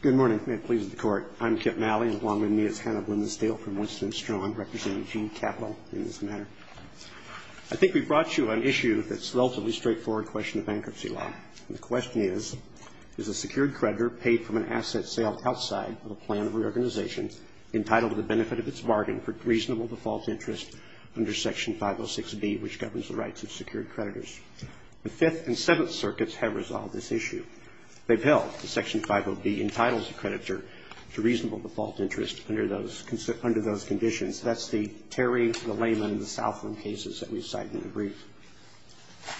Good morning. May it please the Court. I'm Kip Malley, and along with me is Hannah Blimestale from Winston & Strong, representing GE Capital in this matter. I think we've brought you an issue that's a relatively straightforward question of bankruptcy law. And the question is, is a secured creditor paid from an asset sale outside of a plan of reorganization entitled to the benefit of its bargain for reasonable to false interest under Section 506B, which governs the rights of secured creditors? The Fifth and Seventh Circuits have resolved this issue. They've held that Section 50B entitles the creditor to reasonable default interest under those conditions. That's the Terry, the Layman, and the Southland cases that we've cited in the brief.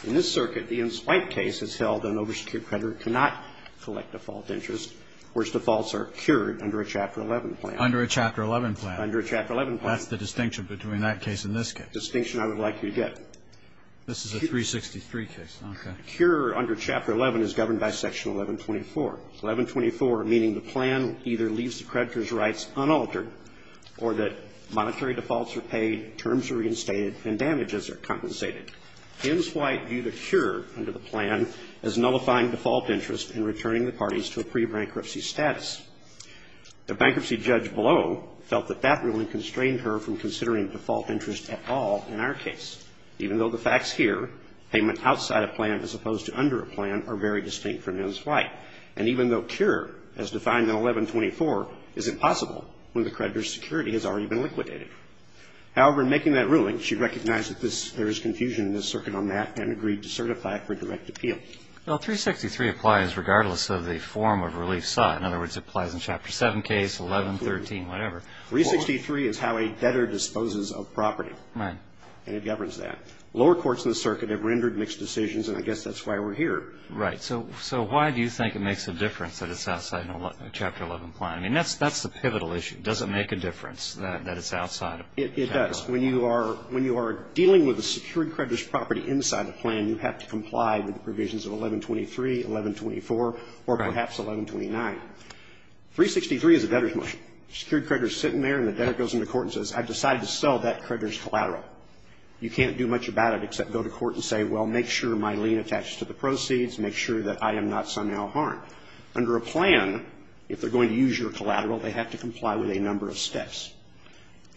In this circuit, the Enswipe case has held an oversecured creditor cannot collect default interest, whereas defaults are cured under a Chapter 11 plan. Under a Chapter 11 plan. Under a Chapter 11 plan. That's the distinction between that case and this case. The distinction I would like you to get. This is a 363 case. Okay. Cure under Chapter 11 is governed by Section 1124. 1124 meaning the plan either leaves the creditor's rights unaltered or that monetary defaults are paid, terms are reinstated, and damages are compensated. Enswipe viewed a cure under the plan as nullifying default interest in returning the parties to a pre-bankruptcy status. The bankruptcy judge below felt that that ruling constrained her from considering default interest at all in our case. Even though the facts here, payment outside a plan as opposed to under a plan, are very distinct from Enswipe. And even though cure, as defined in 1124, is impossible when the creditor's security has already been liquidated. However, in making that ruling, she recognized that there is confusion in this circuit on that and agreed to certify it for direct appeal. Well, 363 applies regardless of the form of relief sought. In other words, it applies in Chapter 7 case, 11, 13, whatever. 363 is how a debtor disposes of property. Right. And it governs that. Lower courts in the circuit have rendered mixed decisions, and I guess that's why we're here. Right. So why do you think it makes a difference that it's outside a Chapter 11 plan? I mean, that's the pivotal issue. Does it make a difference that it's outside of Chapter 11? It does. When you are dealing with a secured creditor's property inside the plan, you have to comply with the provisions of 1123, 1124, or perhaps 1129. Right. 363 is a debtor's motion. A secured creditor is sitting there and the debtor goes into court and says, I've decided to sell that creditor's collateral. You can't do much about it except go to court and say, well, make sure my lien attaches to the proceeds, make sure that I am not somehow harmed. Under a plan, if they're going to use your collateral, they have to comply with a number of steps.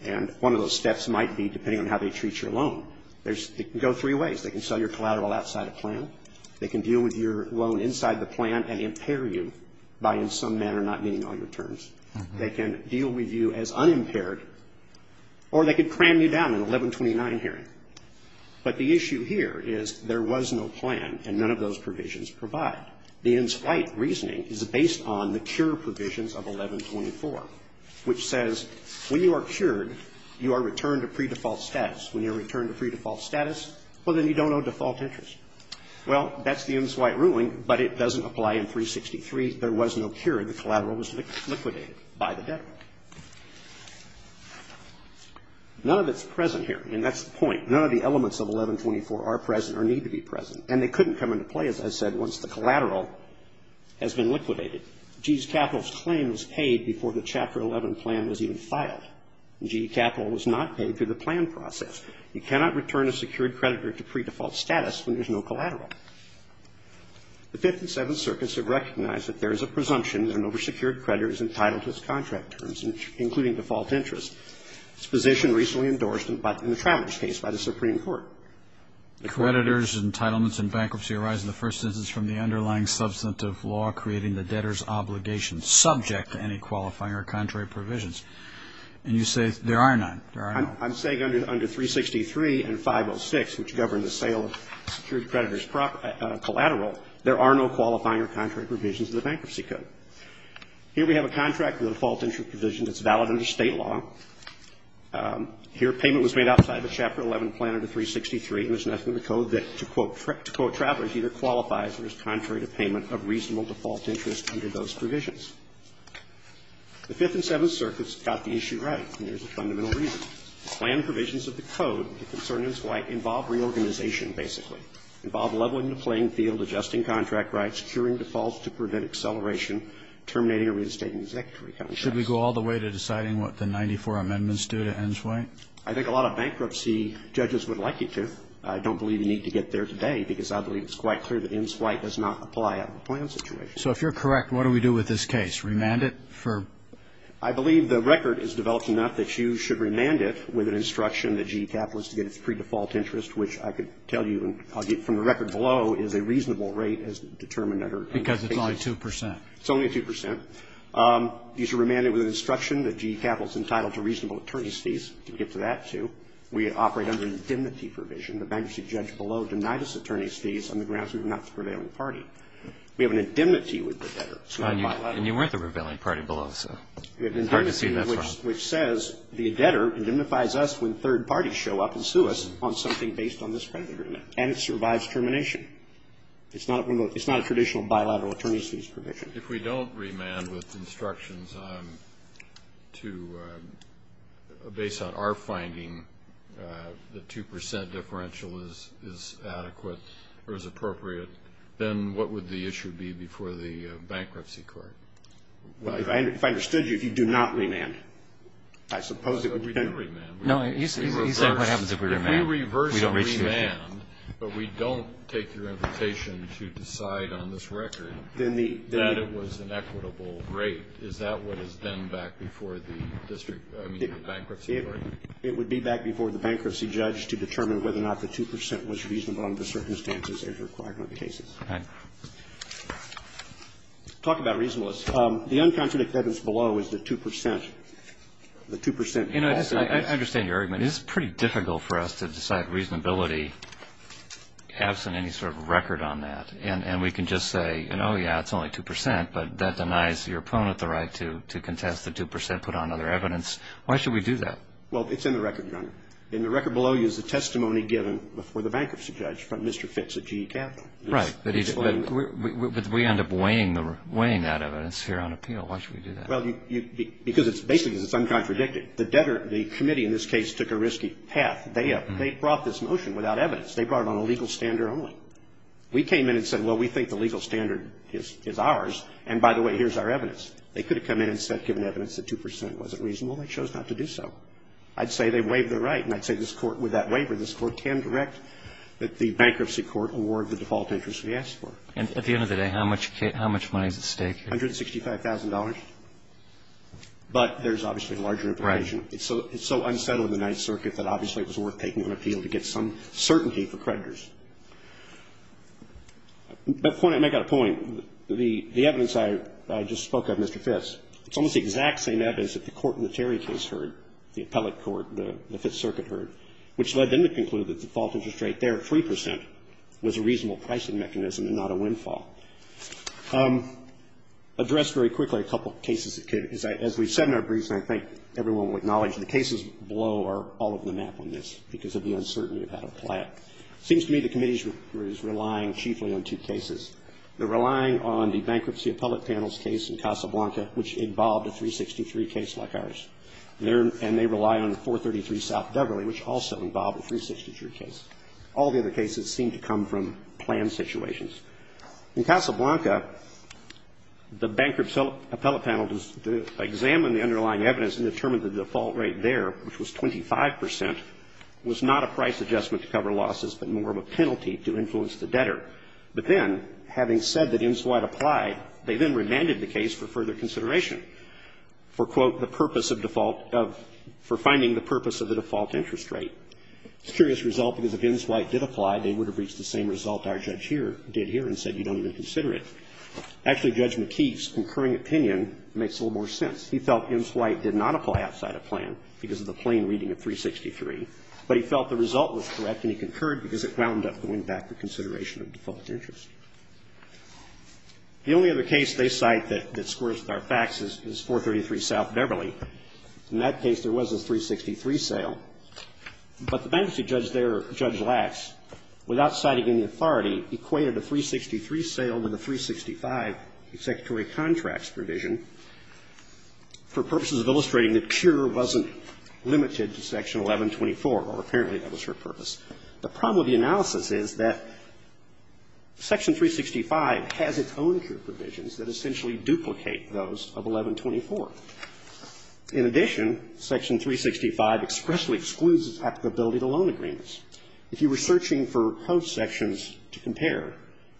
And one of those steps might be, depending on how they treat your loan, it can go three ways. They can sell your collateral outside a plan. They can deal with your loan inside the plan and impair you by in some manner not meeting all your terms. They can deal with you as unimpaired. Or they can cram you down in 1129 hearing. But the issue here is there was no plan and none of those provisions provide. The EMSWITE reasoning is based on the cure provisions of 1124, which says when you are cured, you are returned to pre-default status. When you are returned to pre-default status, well, then you don't owe default interest. Well, that's the EMSWITE ruling, but it doesn't apply in 363. There was no cure. The collateral was liquidated by the debtor. None of it's present here. I mean, that's the point. None of the elements of 1124 are present or need to be present. And they couldn't come into play, as I said, once the collateral has been liquidated. GE's capital claim was paid before the Chapter 11 plan was even filed. GE capital was not paid through the plan process. You cannot return a secured creditor to pre-default status when there's no collateral. The 57th Circuit should recognize that there is a presumption that an over-secured creditor is entitled to his contract terms, including default interest. This position recently endorsed in the Travers case by the Supreme Court. The creditor's entitlements in bankruptcy arise in the first instance from the underlying substantive law creating the debtor's obligation subject to any qualifying or contrary provisions. And you say there are none. There are none. I'm saying under 363 and 506, which govern the sale of secured creditor's collateral, there are no qualifying or contrary provisions of the Bankruptcy Code. Here we have a contract with a default interest provision that's valid under State law. Here payment was made outside the Chapter 11 plan under 363, and there's nothing in the Code that, to quote Travers, either qualifies or is contrary to payment of reasonable default interest under those provisions. The Fifth and Seventh Circuits got the issue right, and there's a fundamental reason. The plan provisions of the Code, the concern is why involve reorganization, basically. Involve leveling the playing field, adjusting contract rights, securing defaults to prevent acceleration, terminating or reinstating executory contracts. Should we go all the way to deciding what the 94 amendments do to Enswite? I think a lot of bankruptcy judges would like you to. I don't believe you need to get there today, because I believe it's quite clear that Enswite does not apply out of the plan situation. So if you're correct, what do we do with this case? Remand it for? I believe the record is developed enough that you should remand it with an instruction that GE Capital is to get its pre-default interest, which I could tell you from the record below is a reasonable rate as determined under the case. Because it's only 2 percent. It's only 2 percent. You should remand it with an instruction that GE Capital is entitled to reasonable attorney's fees. We can get to that, too. We operate under indemnity provision. The bankruptcy judge below denied us attorney's fees on the grounds we were not the prevailing party. We have an indemnity with the debtor. And you weren't the prevailing party below, so it's hard to see that's wrong. And then there's a clause which says the debtor indemnifies us when third parties show up and sue us on something based on this predetermined. And it survives termination. It's not a traditional bilateral attorney's fees provision. If we don't remand with instructions based on our finding, the 2 percent differential is adequate or is appropriate, then what would the issue be before the bankruptcy court? Well, if I understood you, if you do not remand, I suppose it would depend. No, he said what happens if we remand. If we reverse remand, but we don't take your invitation to decide on this record, that it was an equitable rate, is that what is then back before the district, I mean, the bankruptcy court? It would be back before the bankruptcy judge to determine whether or not the 2 percent was reasonable under the circumstances as required under the cases. Okay. Talk about reasonableness. The uncontradicted evidence below is the 2 percent. You know, I understand your argument. It's pretty difficult for us to decide reasonability absent any sort of record on that. And we can just say, you know, yeah, it's only 2 percent, but that denies your opponent the right to contest the 2 percent, put on other evidence. Why should we do that? Well, it's in the record, Your Honor. In the record below you is the testimony given before the bankruptcy judge, Mr. Fitz at GE Capital. Right. But we end up weighing that evidence here on appeal. Why should we do that? Well, because basically it's uncontradicted. The debtor, the committee in this case, took a risky path. They brought this motion without evidence. They brought it on a legal standard only. We came in and said, well, we think the legal standard is ours. And, by the way, here's our evidence. They could have come in and said, given evidence, that 2 percent wasn't reasonable. They chose not to do so. I'd say they waived the right. And I'd say this Court, with that waiver, this Court can direct that the bankruptcy court can award the default interest we asked for. And at the end of the day, how much money is at stake here? $165,000. But there's obviously larger information. Right. It's so unsettled in the Ninth Circuit that obviously it was worth taking on appeal to get some certainty for creditors. But I've got a point. The evidence I just spoke of, Mr. Fitz, it's almost the exact same evidence that the court in the Terry case heard, the appellate court, the Fifth Circuit heard, which led them to conclude that the default interest rate there, 3 percent, was a reasonable pricing mechanism and not a windfall. Address very quickly a couple of cases that came. As we said in our briefs, and I think everyone will acknowledge, the cases below are all of the map on this because of the uncertainty of how to apply it. It seems to me the committee is relying chiefly on two cases. They're relying on the bankruptcy appellate panel's case in Casablanca, which involved a 363 case like ours. And they rely on the 433 South Beverly, which also involved a 363 case. All the other cases seem to come from planned situations. In Casablanca, the bankruptcy appellate panel examined the underlying evidence and determined the default rate there, which was 25 percent, was not a price adjustment to cover losses, but more of a penalty to influence the debtor. But then, having said that IMSWIDE applied, they then remanded the case for further consideration for, quote, the purpose of default of, for finding the purpose of the default interest rate. It's a curious result because if IMSWIDE did apply, they would have reached the same result our judge here did here and said you don't even consider it. Actually, Judge McKee's concurring opinion makes a little more sense. He felt IMSWIDE did not apply outside of plan because of the plain reading of 363, but he felt the result was correct and he concurred because it wound up going back to consideration of default interest. The only other case they cite that squares with our facts is 433 South Beverly. In that case, there was a 363 sale. But the bankruptcy judge there, Judge Lax, without citing any authority, equated a 363 sale with a 365 executory contracts provision for purposes of illustrating that cure wasn't limited to Section 1124, or apparently that was her purpose. The problem with the analysis is that Section 365 has its own cure provisions that essentially duplicate those of 1124. In addition, Section 365 expressly excludes its applicability to loan agreements. If you were searching for post sections to compare,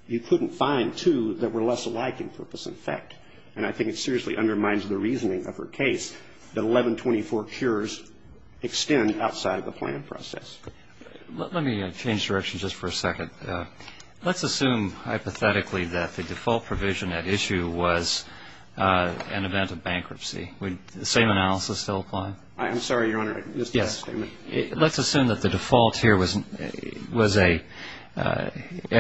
you couldn't find two that were less alike in purpose and effect. And I think it seriously undermines the reasoning of her case that 1124 cures extend outside of the plan process. Let me change directions just for a second. Let's assume hypothetically that the default provision at issue was an event of bankruptcy. Would the same analysis still apply? I'm sorry, Your Honor, I missed the last statement. Yes. Let's assume that the default here at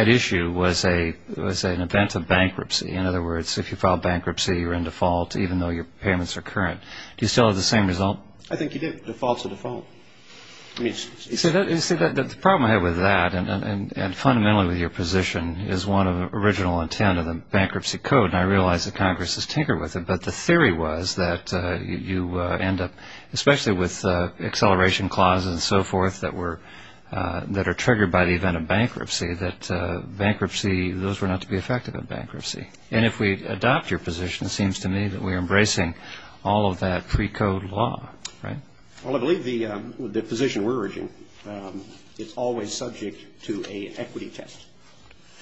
issue was an event of bankruptcy. In other words, if you file bankruptcy, you're in default even though your payments are current. Do you still have the same result? I think you do. Default's a default. You see, the problem I have with that and fundamentally with your position is one of original intent of the bankruptcy code. And I realize that Congress has tinkered with it, but the theory was that you end up, especially with acceleration clauses and so forth that are triggered by the event of bankruptcy, that those were not to be effective in bankruptcy. And if we adopt your position, it seems to me that we're embracing all of that pre-code law, right? Well, I believe the position we're urging is always subject to an equity test.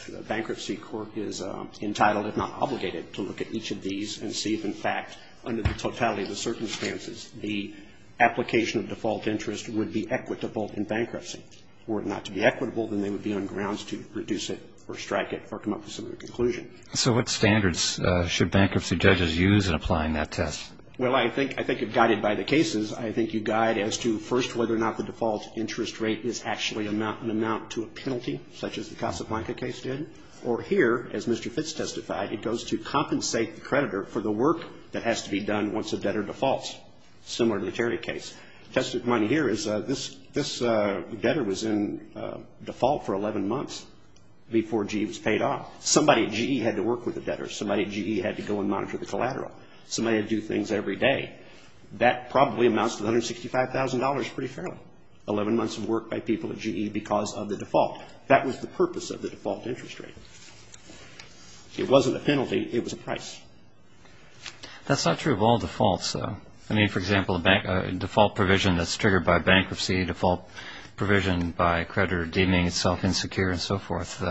The Bankruptcy Court is entitled, if not obligated, to look at each of these and see if, in fact, under the totality of the circumstances, the application of default interest would be equitable in bankruptcy. Were it not to be equitable, then they would be on grounds to reduce it or strike it or come up with some other conclusion. So what standards should bankruptcy judges use in applying that test? Well, I think if guided by the cases, I think you guide as to, first, whether or not the default interest rate is actually an amount to a penalty, such as the Casablanca case did. Or here, as Mr. Fitz testified, it goes to compensate the creditor for the work that has to be done once a debtor defaults, similar to the Terry case. Tested money here is this debtor was in default for 11 months before GE was paid off. Somebody at GE had to work with the debtor. Somebody at GE had to go and monitor the collateral. Somebody had to do things every day. That probably amounts to $165,000 pretty fairly, 11 months of work by people at GE because of the default. That was the purpose of the default interest rate. It wasn't a penalty. It was a price. That's not true of all defaults, though. I mean, for example, a default provision that's triggered by bankruptcy, default provision by a creditor deeming itself insecure and so forth,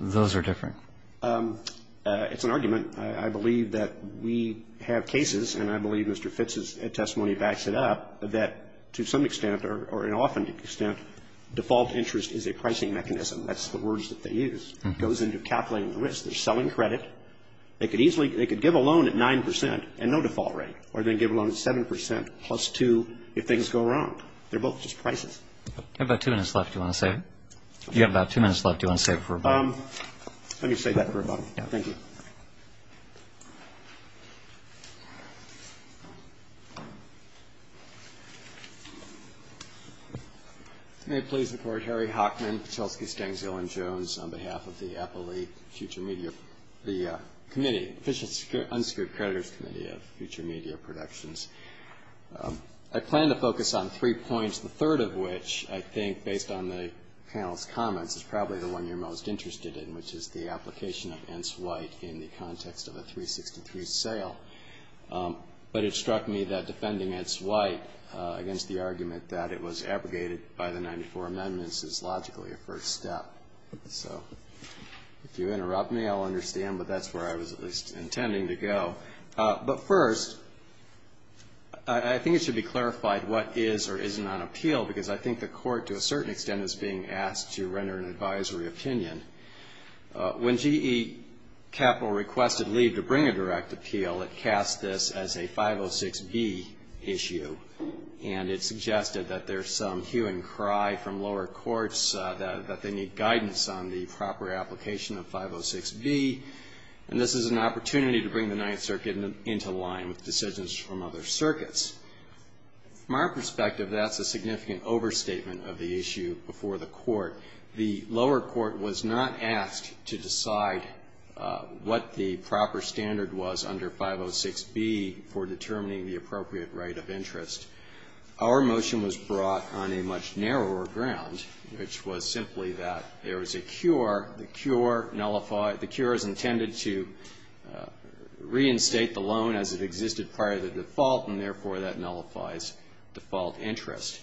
those are different. It's an argument. I believe that we have cases, and I believe Mr. Fitz's testimony backs it up, that to some extent, or an often extent, default interest is a pricing mechanism. That's the words that they use. It goes into calculating the risk. They're selling credit. They could easily, they could give a loan at 9 percent and no default rate, or they could give a loan at 7 percent plus 2 if things go wrong. They're both just prices. You have about two minutes left. You have about two minutes left. Do you want to save for a break? Let me save that for a moment. Thank you. May it please the Court, Harry Hockman, Patulsky, Stangs, Hill, and Jones, on behalf of the Appellee Future Media, the Committee, Official Unsecured Creditors Committee of Future Media Productions. I plan to focus on three points, the third of which I think, based on the panel's comments, is probably the one you're most interested in, which is the application of Entz-White in the context of a 363 sale. But it struck me that defending Entz-White against the argument that it was abrogated by the 94 amendments is logically a first step. So, if you interrupt me, I'll understand, but that's where I was at least intending to go. But first, I think it should be clarified what is or isn't on appeal, because I think the Court, to a certain extent, is being asked to render an advisory opinion. When GE Capital requested leave to bring a direct appeal, it cast this as a 506B issue. And it suggested that there's some hue and cry from lower courts that they need guidance on the proper application of 506B. And this is an opportunity to bring the Ninth Circuit into line with decisions from other circuits. From our perspective, that's a significant overstatement of the issue before the Court. The lower court was not asked to decide what the proper standard was under 506B for determining the appropriate right of interest. Our motion was brought on a much narrower ground, which was simply that there was a cure, the cure nullified, the cure is intended to reinstate the loan as it existed prior to default, and therefore that nullifies default interest.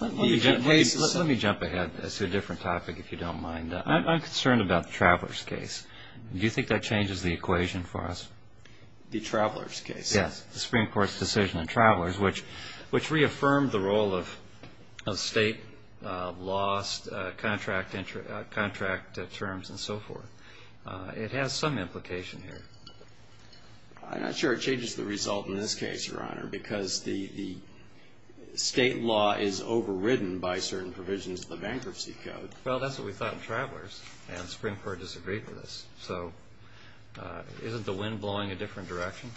Let me jump ahead to a different topic, if you don't mind. I'm concerned about the Travelers case. Do you think that changes the equation for us? The Travelers case? Yes. The Supreme Court's decision on Travelers, which reaffirmed the role of state lost contract terms and so forth, it has some implication here. I'm not sure it changes the result in this case, Your Honor, because the state law is overridden by certain provisions of the Bankruptcy Code. Well, that's what we thought in Travelers, and the Supreme Court disagreed with us. So isn't the wind blowing a different direction?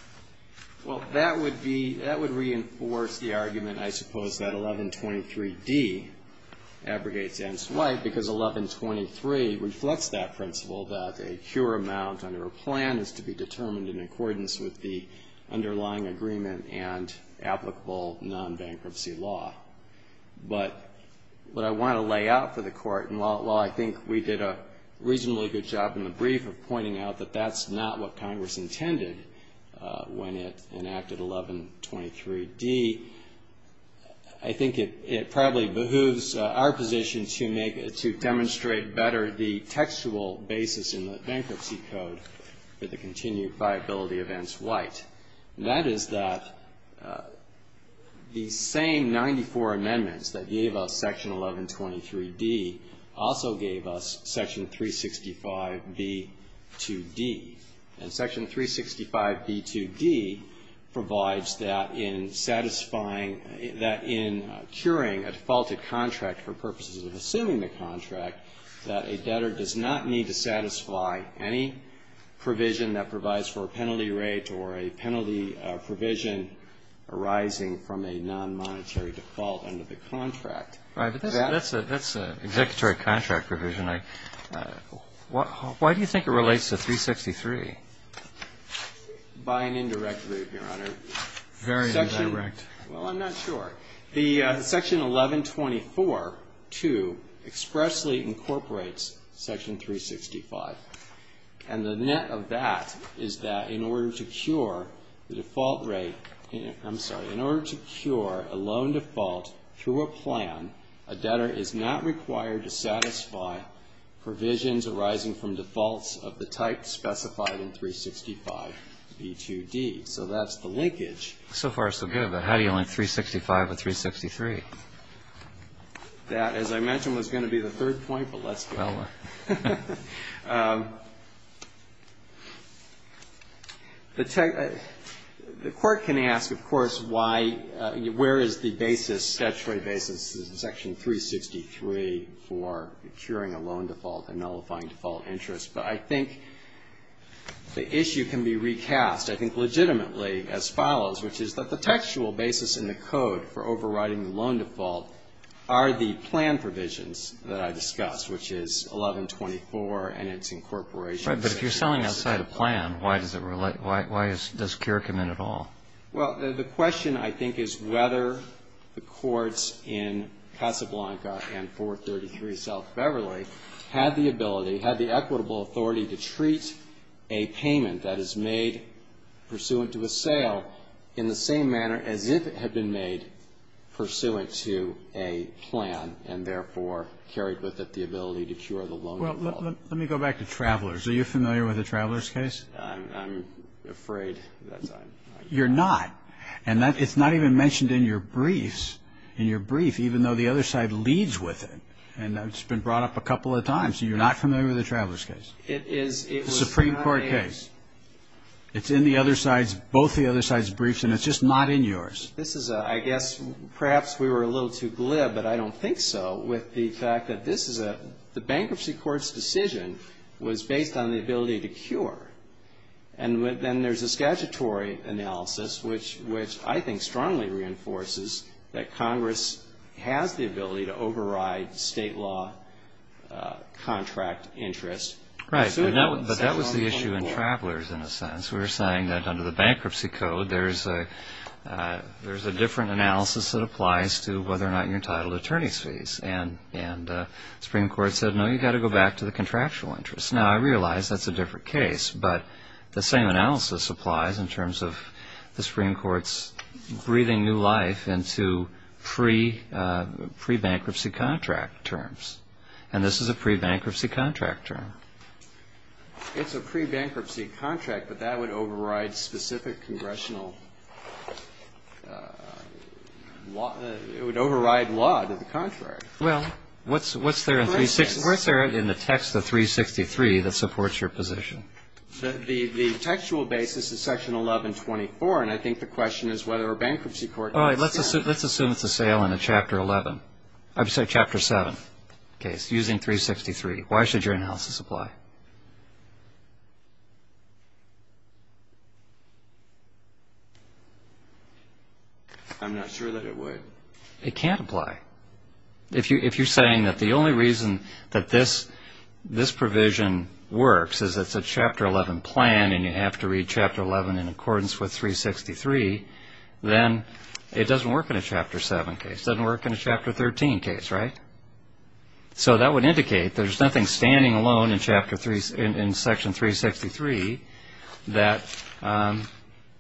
Well, that would be, that would reinforce the argument, I suppose, that 1123D abrogates N. Swype because 1123 reflects that principle, that a cure amount under a plan is to be determined in accordance with the underlying agreement and applicable non-bankruptcy law. But what I want to lay out for the Court, and while I think we did a reasonably good job in the brief of pointing out that that's not what Congress intended when it enacted 1123D, I think it probably behooves our position to make, to demonstrate better the textual basis in the Bankruptcy Code for the continued viability of N. Swype. And that is that the same 94 amendments that gave us Section 1123D also gave us Section 365B2D. And Section 365B2D provides that in satisfying, that in curing a defaulted contract for purposes of assuming the contract, that a debtor does not need to satisfy any provision that provides for a penalty rate or a penalty provision arising from a non-monetary default under the contract. Right. But that's an executory contract provision. Why do you think it relates to 363? By an indirect route, Your Honor. Very indirect. Well, I'm not sure. The Section 1124-2 expressly incorporates Section 365. And the net of that is that in order to cure the default rate, I'm sorry, in order to cure a loan default through a plan, a debtor is not required to satisfy provisions arising from defaults of the type specified in 365B2D. So that's the linkage. So far, so good. But how do you link 365 with 363? That, as I mentioned, was going to be the third point, but let's do it. Well. The Court can ask, of course, why, where is the basis, statutory basis, Section 363 for curing a loan default and nullifying default interest? But I think the issue can be recast, I think, legitimately as follows, which is that the textual basis in the code for overriding the loan default are the plan provisions that I discussed, which is 1124 and its incorporation. Right. But if you're selling outside a plan, why does it relate? Why does cure come in at all? Well, the question, I think, is whether the courts in Casablanca and 433 South Beverly had the ability, had the equitable authority to treat a payment that is made pursuant to a sale in the same manner as if it had been made pursuant to a plan and, therefore, carried with it the ability to cure the loan default. Well, let me go back to Travelers. Are you familiar with the Travelers case? I'm afraid that's not my case. You're not. And it's not even mentioned in your briefs, in your brief, even though the other side leads with it. And it's been brought up a couple of times. You're not familiar with the Travelers case? It is. The Supreme Court case. It's in the other side's, both the other side's briefs, and it's just not in yours. This is, I guess, perhaps we were a little too glib, but I don't think so, with the bankruptcy court's decision was based on the ability to cure. And then there's a statutory analysis, which I think strongly reinforces that Congress has the ability to override state law contract interest. Right. But that was the issue in Travelers, in a sense. We were saying that under the bankruptcy code, there's a different analysis that the Supreme Court said, no, you've got to go back to the contractual interest. Now, I realize that's a different case, but the same analysis applies in terms of the Supreme Court's breathing new life into pre-bankruptcy contract terms. And this is a pre-bankruptcy contract term. It's a pre-bankruptcy contract, but that would override specific congressional law, it would override law to the contrary. Well, what's there in the text of 363 that supports your position? The textual basis is Section 1124, and I think the question is whether a bankruptcy court can extend it. All right. Let's assume it's a sale in a Chapter 7 case using 363. Why should your analysis apply? I'm not sure that it would. It can't apply. If you're saying that the only reason that this provision works is it's a Chapter 11 plan, and you have to read Chapter 11 in accordance with 363, then it doesn't work in a Chapter 7 case. It doesn't work in a Chapter 13 case, right? So that would indicate there's nothing standing alone in Section 363 that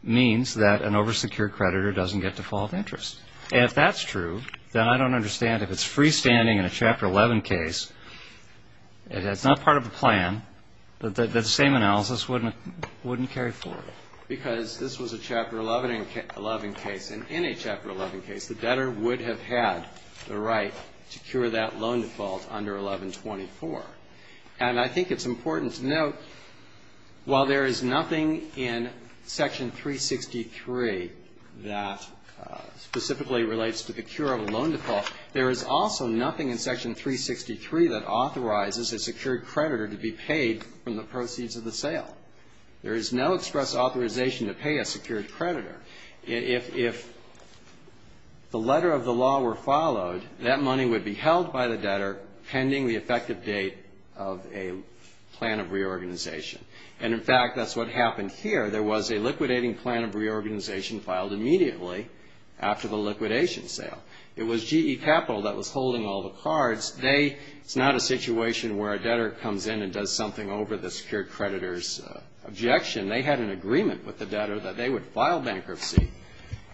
means that an over-secured creditor doesn't get default interest. And if that's true, then I don't understand if it's freestanding in a Chapter 11 case, it's not part of the plan, that the same analysis wouldn't carry forward. Because this was a Chapter 11 case, and in a Chapter 11 case, the debtor would have had the right to cure that loan default under 1124. And I think it's important to note, while there is nothing in Section 363 that specifically relates to the cure of a loan default, there is also nothing in Section 363 that authorizes a secured creditor to be paid from the proceeds of the sale. There is no express authorization to pay a secured creditor. If the letter of the law were followed, that money would be held by the debtor pending the effective date of a plan of reorganization. And, in fact, that's what happened here. There was a liquidating plan of reorganization filed immediately after the liquidation sale. It was GE Capital that was holding all the cards. It's not a situation where a debtor comes in and does something over the secured creditor's objection. They had an agreement with the debtor that they would file bankruptcy,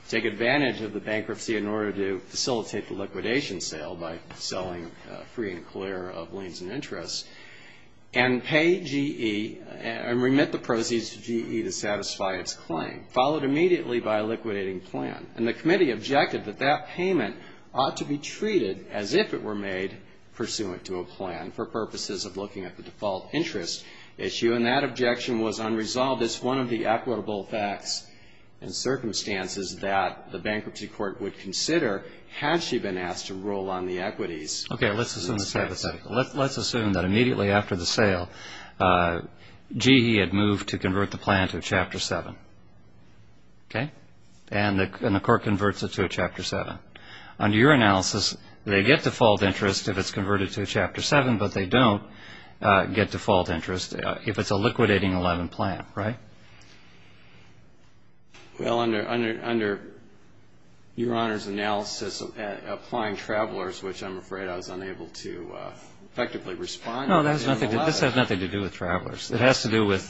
take advantage of the bankruptcy in order to facilitate the liquidation sale by selling free and clear of liens and interests, and pay GE and remit the proceeds to GE to satisfy its claim, followed immediately by a liquidating plan. And the committee objected that that payment ought to be treated as if it were made pursuant to a plan for purposes of looking at the default interest issue. And that objection was unresolved. It's one of the equitable facts and circumstances that the bankruptcy court would consider had she been asked to roll on the equities. Okay. Let's assume that immediately after the sale, GE had moved to convert the plan to a Chapter 7. Okay? And the court converts it to a Chapter 7. Under your analysis, they get default interest if it's converted to a Chapter 7, but they don't get default interest if it's a liquidating 11 plan, right? Well, under Your Honor's analysis, applying Travelers, which I'm afraid I was unable to effectively respond to. No, this has nothing to do with Travelers. It has to do with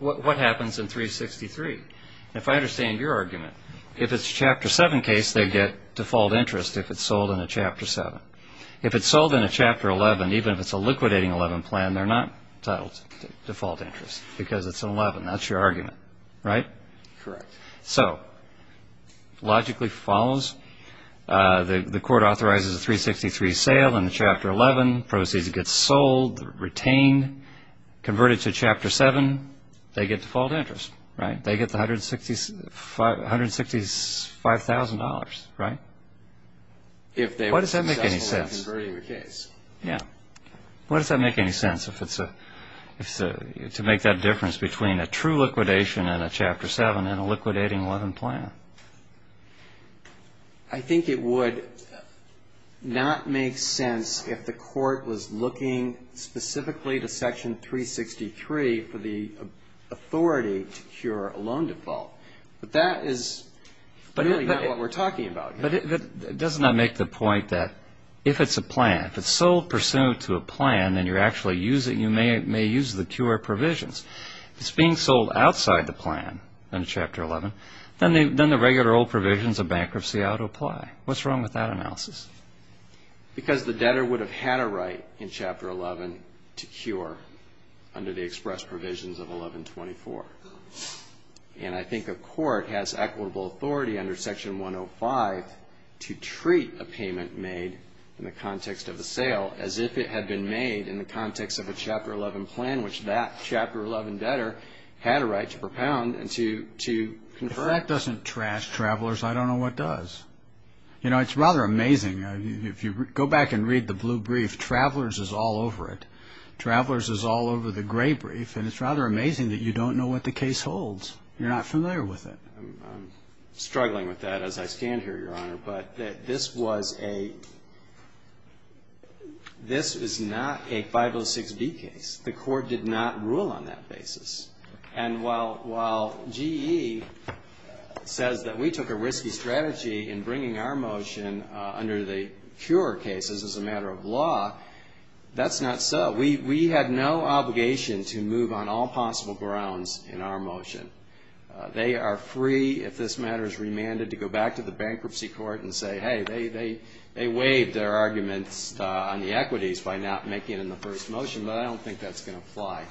what happens in 363. If I understand your argument, if it's a Chapter 7 case, they get default interest if it's sold in a Chapter 7. If it's sold in a Chapter 11, even if it's a liquidating 11 plan, they're not entitled to default interest because it's an 11. That's your argument, right? Correct. So logically follows. The court authorizes a 363 sale in the Chapter 11. Proceeds get sold, retained, converted to Chapter 7. They get default interest, right? They get the $165,000, right? If they were successful in converting the case. Yeah. Well, does that make any sense to make that difference between a true liquidation in a Chapter 7 and a liquidating 11 plan? I think it would not make sense if the court was looking specifically to Section 363 for the authority to cure a loan default. But that is really not what we're talking about here. But doesn't that make the point that if it's a plan, if it's sold pursuant to a plan and you're actually using it, you may use the cure provisions. If it's being sold outside the plan in Chapter 11, then the regular old provisions of bankruptcy ought to apply. What's wrong with that analysis? Because the debtor would have had a right in Chapter 11 to cure under the express provisions of 1124. And I think a court has equitable authority under Section 105 to treat a payment made in the context of a sale as if it had been made in the context of a Chapter 11 plan, which that Chapter 11 debtor had a right to propound and to convert. If that doesn't trash travelers, I don't know what does. You know, it's rather amazing. If you go back and read the blue brief, travelers is all over it. Travelers is all over the gray brief. And it's rather amazing that you don't know what the case holds. You're not familiar with it. I'm struggling with that as I stand here, Your Honor. But this was a – this is not a 506B case. The court did not rule on that basis. And while GE says that we took a risky strategy in bringing our motion under the cure cases as a matter of law, that's not so. We had no obligation to move on all possible grounds in our motion. They are free, if this matter is remanded, to go back to the bankruptcy court and say, hey, they waived their arguments on the equities by not making it in the first motion, but I don't think that's going to apply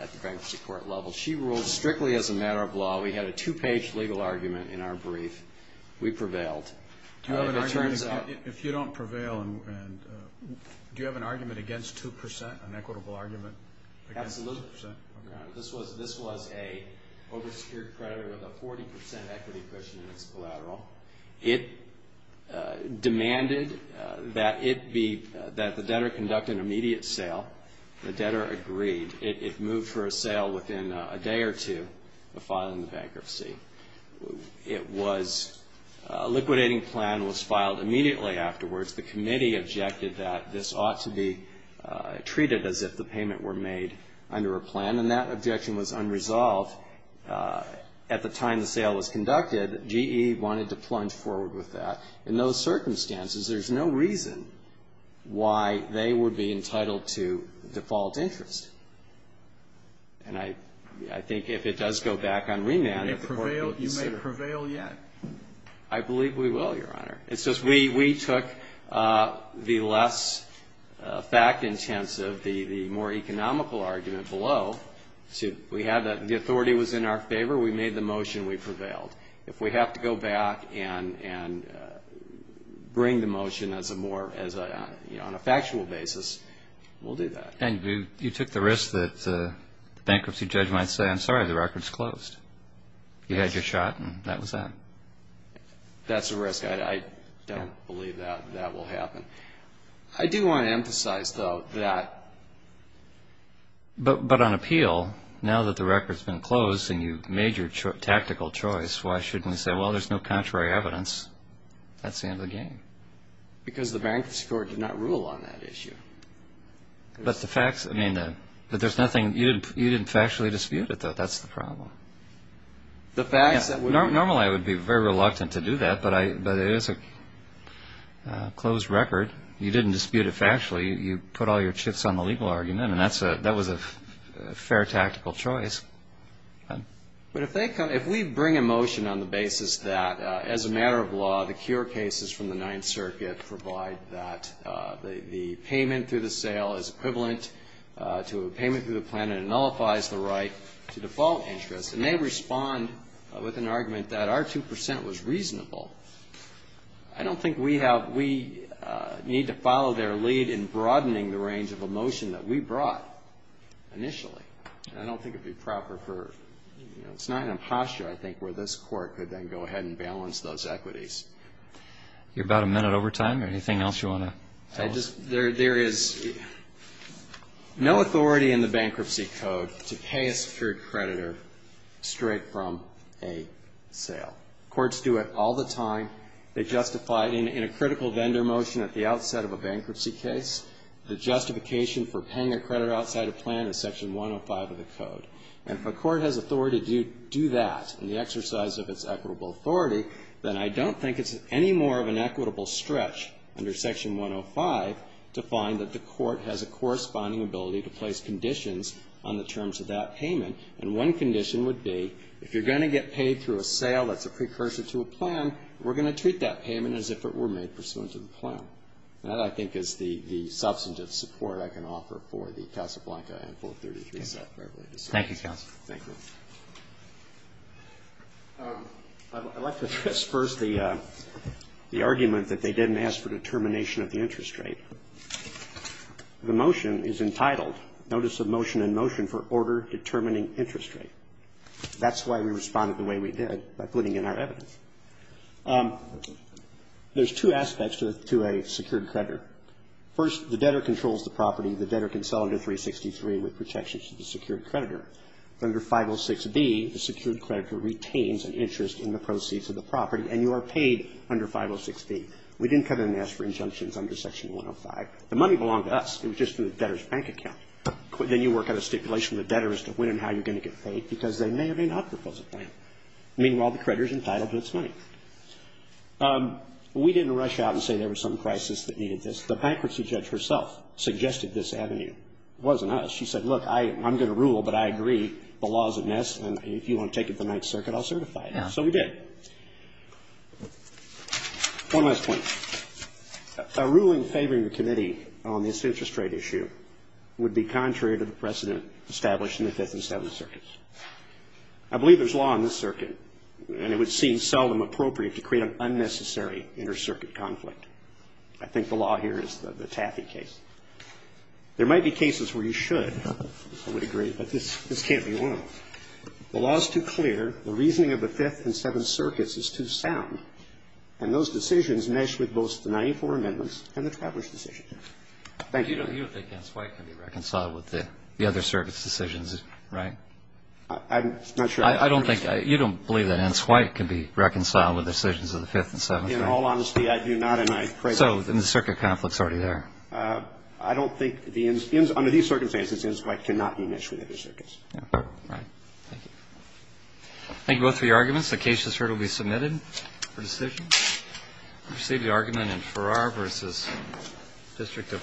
at the bankruptcy court level. She ruled strictly as a matter of law. We had a two-page legal argument in our brief. We prevailed. If you don't prevail, do you have an argument against 2%, an equitable argument against 2%? Absolutely. This was a oversecured creditor with a 40% equity cushion in its collateral. It demanded that it be – that the debtor conduct an immediate sale. The debtor agreed. It moved for a sale within a day or two of filing the bankruptcy. It was – a liquidating plan was filed immediately afterwards. The committee objected that this ought to be treated as if the payment were made under a plan, and that objection was unresolved at the time the sale was conducted. GE wanted to plunge forward with that. In those circumstances, there's no reason why they would be entitled to default interest. And I think if it does go back on remand, the court will consider it. You may prevail yet. I believe we will, Your Honor. It's just we took the less fact-intensive, the more economical argument below. We had the authority was in our favor. We made the motion. We prevailed. If we have to go back and bring the motion as a more – you know, on a factual basis, we'll do that. And you took the risk that the bankruptcy judge might say, I'm sorry, the record's closed. You had your shot, and that was that. That's a risk. I don't believe that that will happen. I do want to emphasize, though, that – But on appeal, now that the record's been closed and you've made your tactical choice, why shouldn't we say, well, there's no contrary evidence? That's the end of the game. Because the bankruptcy court did not rule on that issue. But the facts – I mean, there's nothing – you didn't factually dispute it, though. That's the problem. The facts that would – Normally I would be very reluctant to do that, but it is a closed record. You didn't dispute it factually. You put all your chips on the legal argument, and that was a fair tactical choice. But if they come – if we bring a motion on the basis that, as a matter of law, the cure cases from the Ninth Circuit provide that the payment through the sale is equivalent to a payment through the plan and it nullifies the right to default interest, and they respond with an argument that our 2 percent was reasonable, I don't think we have – we need to follow their lead in broadening the range of a motion that we brought initially. And I don't think it would be proper for – it's not in a posture, I think, where this court could then go ahead and balance those equities. You're about a minute over time. Anything else you want to tell us? There is no authority in the Bankruptcy Code to pay a secured creditor straight from a sale. Courts do it all the time. They justify it in a critical vendor motion at the outset of a bankruptcy case. The justification for paying a creditor outside a plan is Section 105 of the Code. And if a court has authority to do that and the exercise of its equitable authority, then I don't think it's any more of an equitable stretch under Section 105 to find that the court has a corresponding ability to place conditions on the terms of that payment. And one condition would be if you're going to get paid through a sale that's a precursor to a plan, we're going to treat that payment as if it were made pursuant to the plan. That, I think, is the substantive support I can offer for the Casablanca and 433. Thank you, counsel. Thank you. I'd like to address first the argument that they didn't ask for determination of the interest rate. The motion is entitled Notice of Motion in Motion for Order Determining Interest Rate. That's why we responded the way we did by putting in our evidence. There's two aspects to a secured creditor. First, the debtor controls the property. The debtor can sell it at 363 with protections to the secured creditor. Under 506B, the secured creditor retains an interest in the proceeds of the property, and you are paid under 506B. We didn't come in and ask for injunctions under Section 105. The money belonged to us. It was just in the debtor's bank account. Then you work out a stipulation from the debtor as to when and how you're going to get paid, because they may or may not propose a plan. Meanwhile, the creditor's entitled to its money. We didn't rush out and say there was some crisis that needed this. The bankruptcy judge herself suggested this avenue. It wasn't us. She said, look, I'm going to rule, but I agree the law's a mess, and if you want to take it to the Ninth Circuit, I'll certify it. So we did. One last point. A ruling favoring the committee on this interest rate issue would be contrary to the precedent established in the Fifth and Seventh Circuits. I believe there's law in this circuit, and it would seem seldom appropriate to create an unnecessary inter-circuit conflict. I think the law here is the Taffey case. There might be cases where you should, I would agree, but this can't be one of them. The law is too clear, the reasoning of the Fifth and Seventh Circuits is too sound, and those decisions mesh with both the Ninety-Four Amendments and the Travelers' Decision. Thank you. You don't think Ence White can be reconciled with the other circuit's decisions, right? I'm not sure. I don't think you don't believe that Ence White can be reconciled with decisions of the Fifth and Seventh? In all honesty, I do not, and I pray for you. So then the circuit conflict's already there. I don't think, under these circumstances, Ence White cannot be meshed with other circuits. Right. Thank you. Thank you both for your arguments. The case has heard and will be submitted for decision. We receive the argument in Farrar v. District of Hawaii.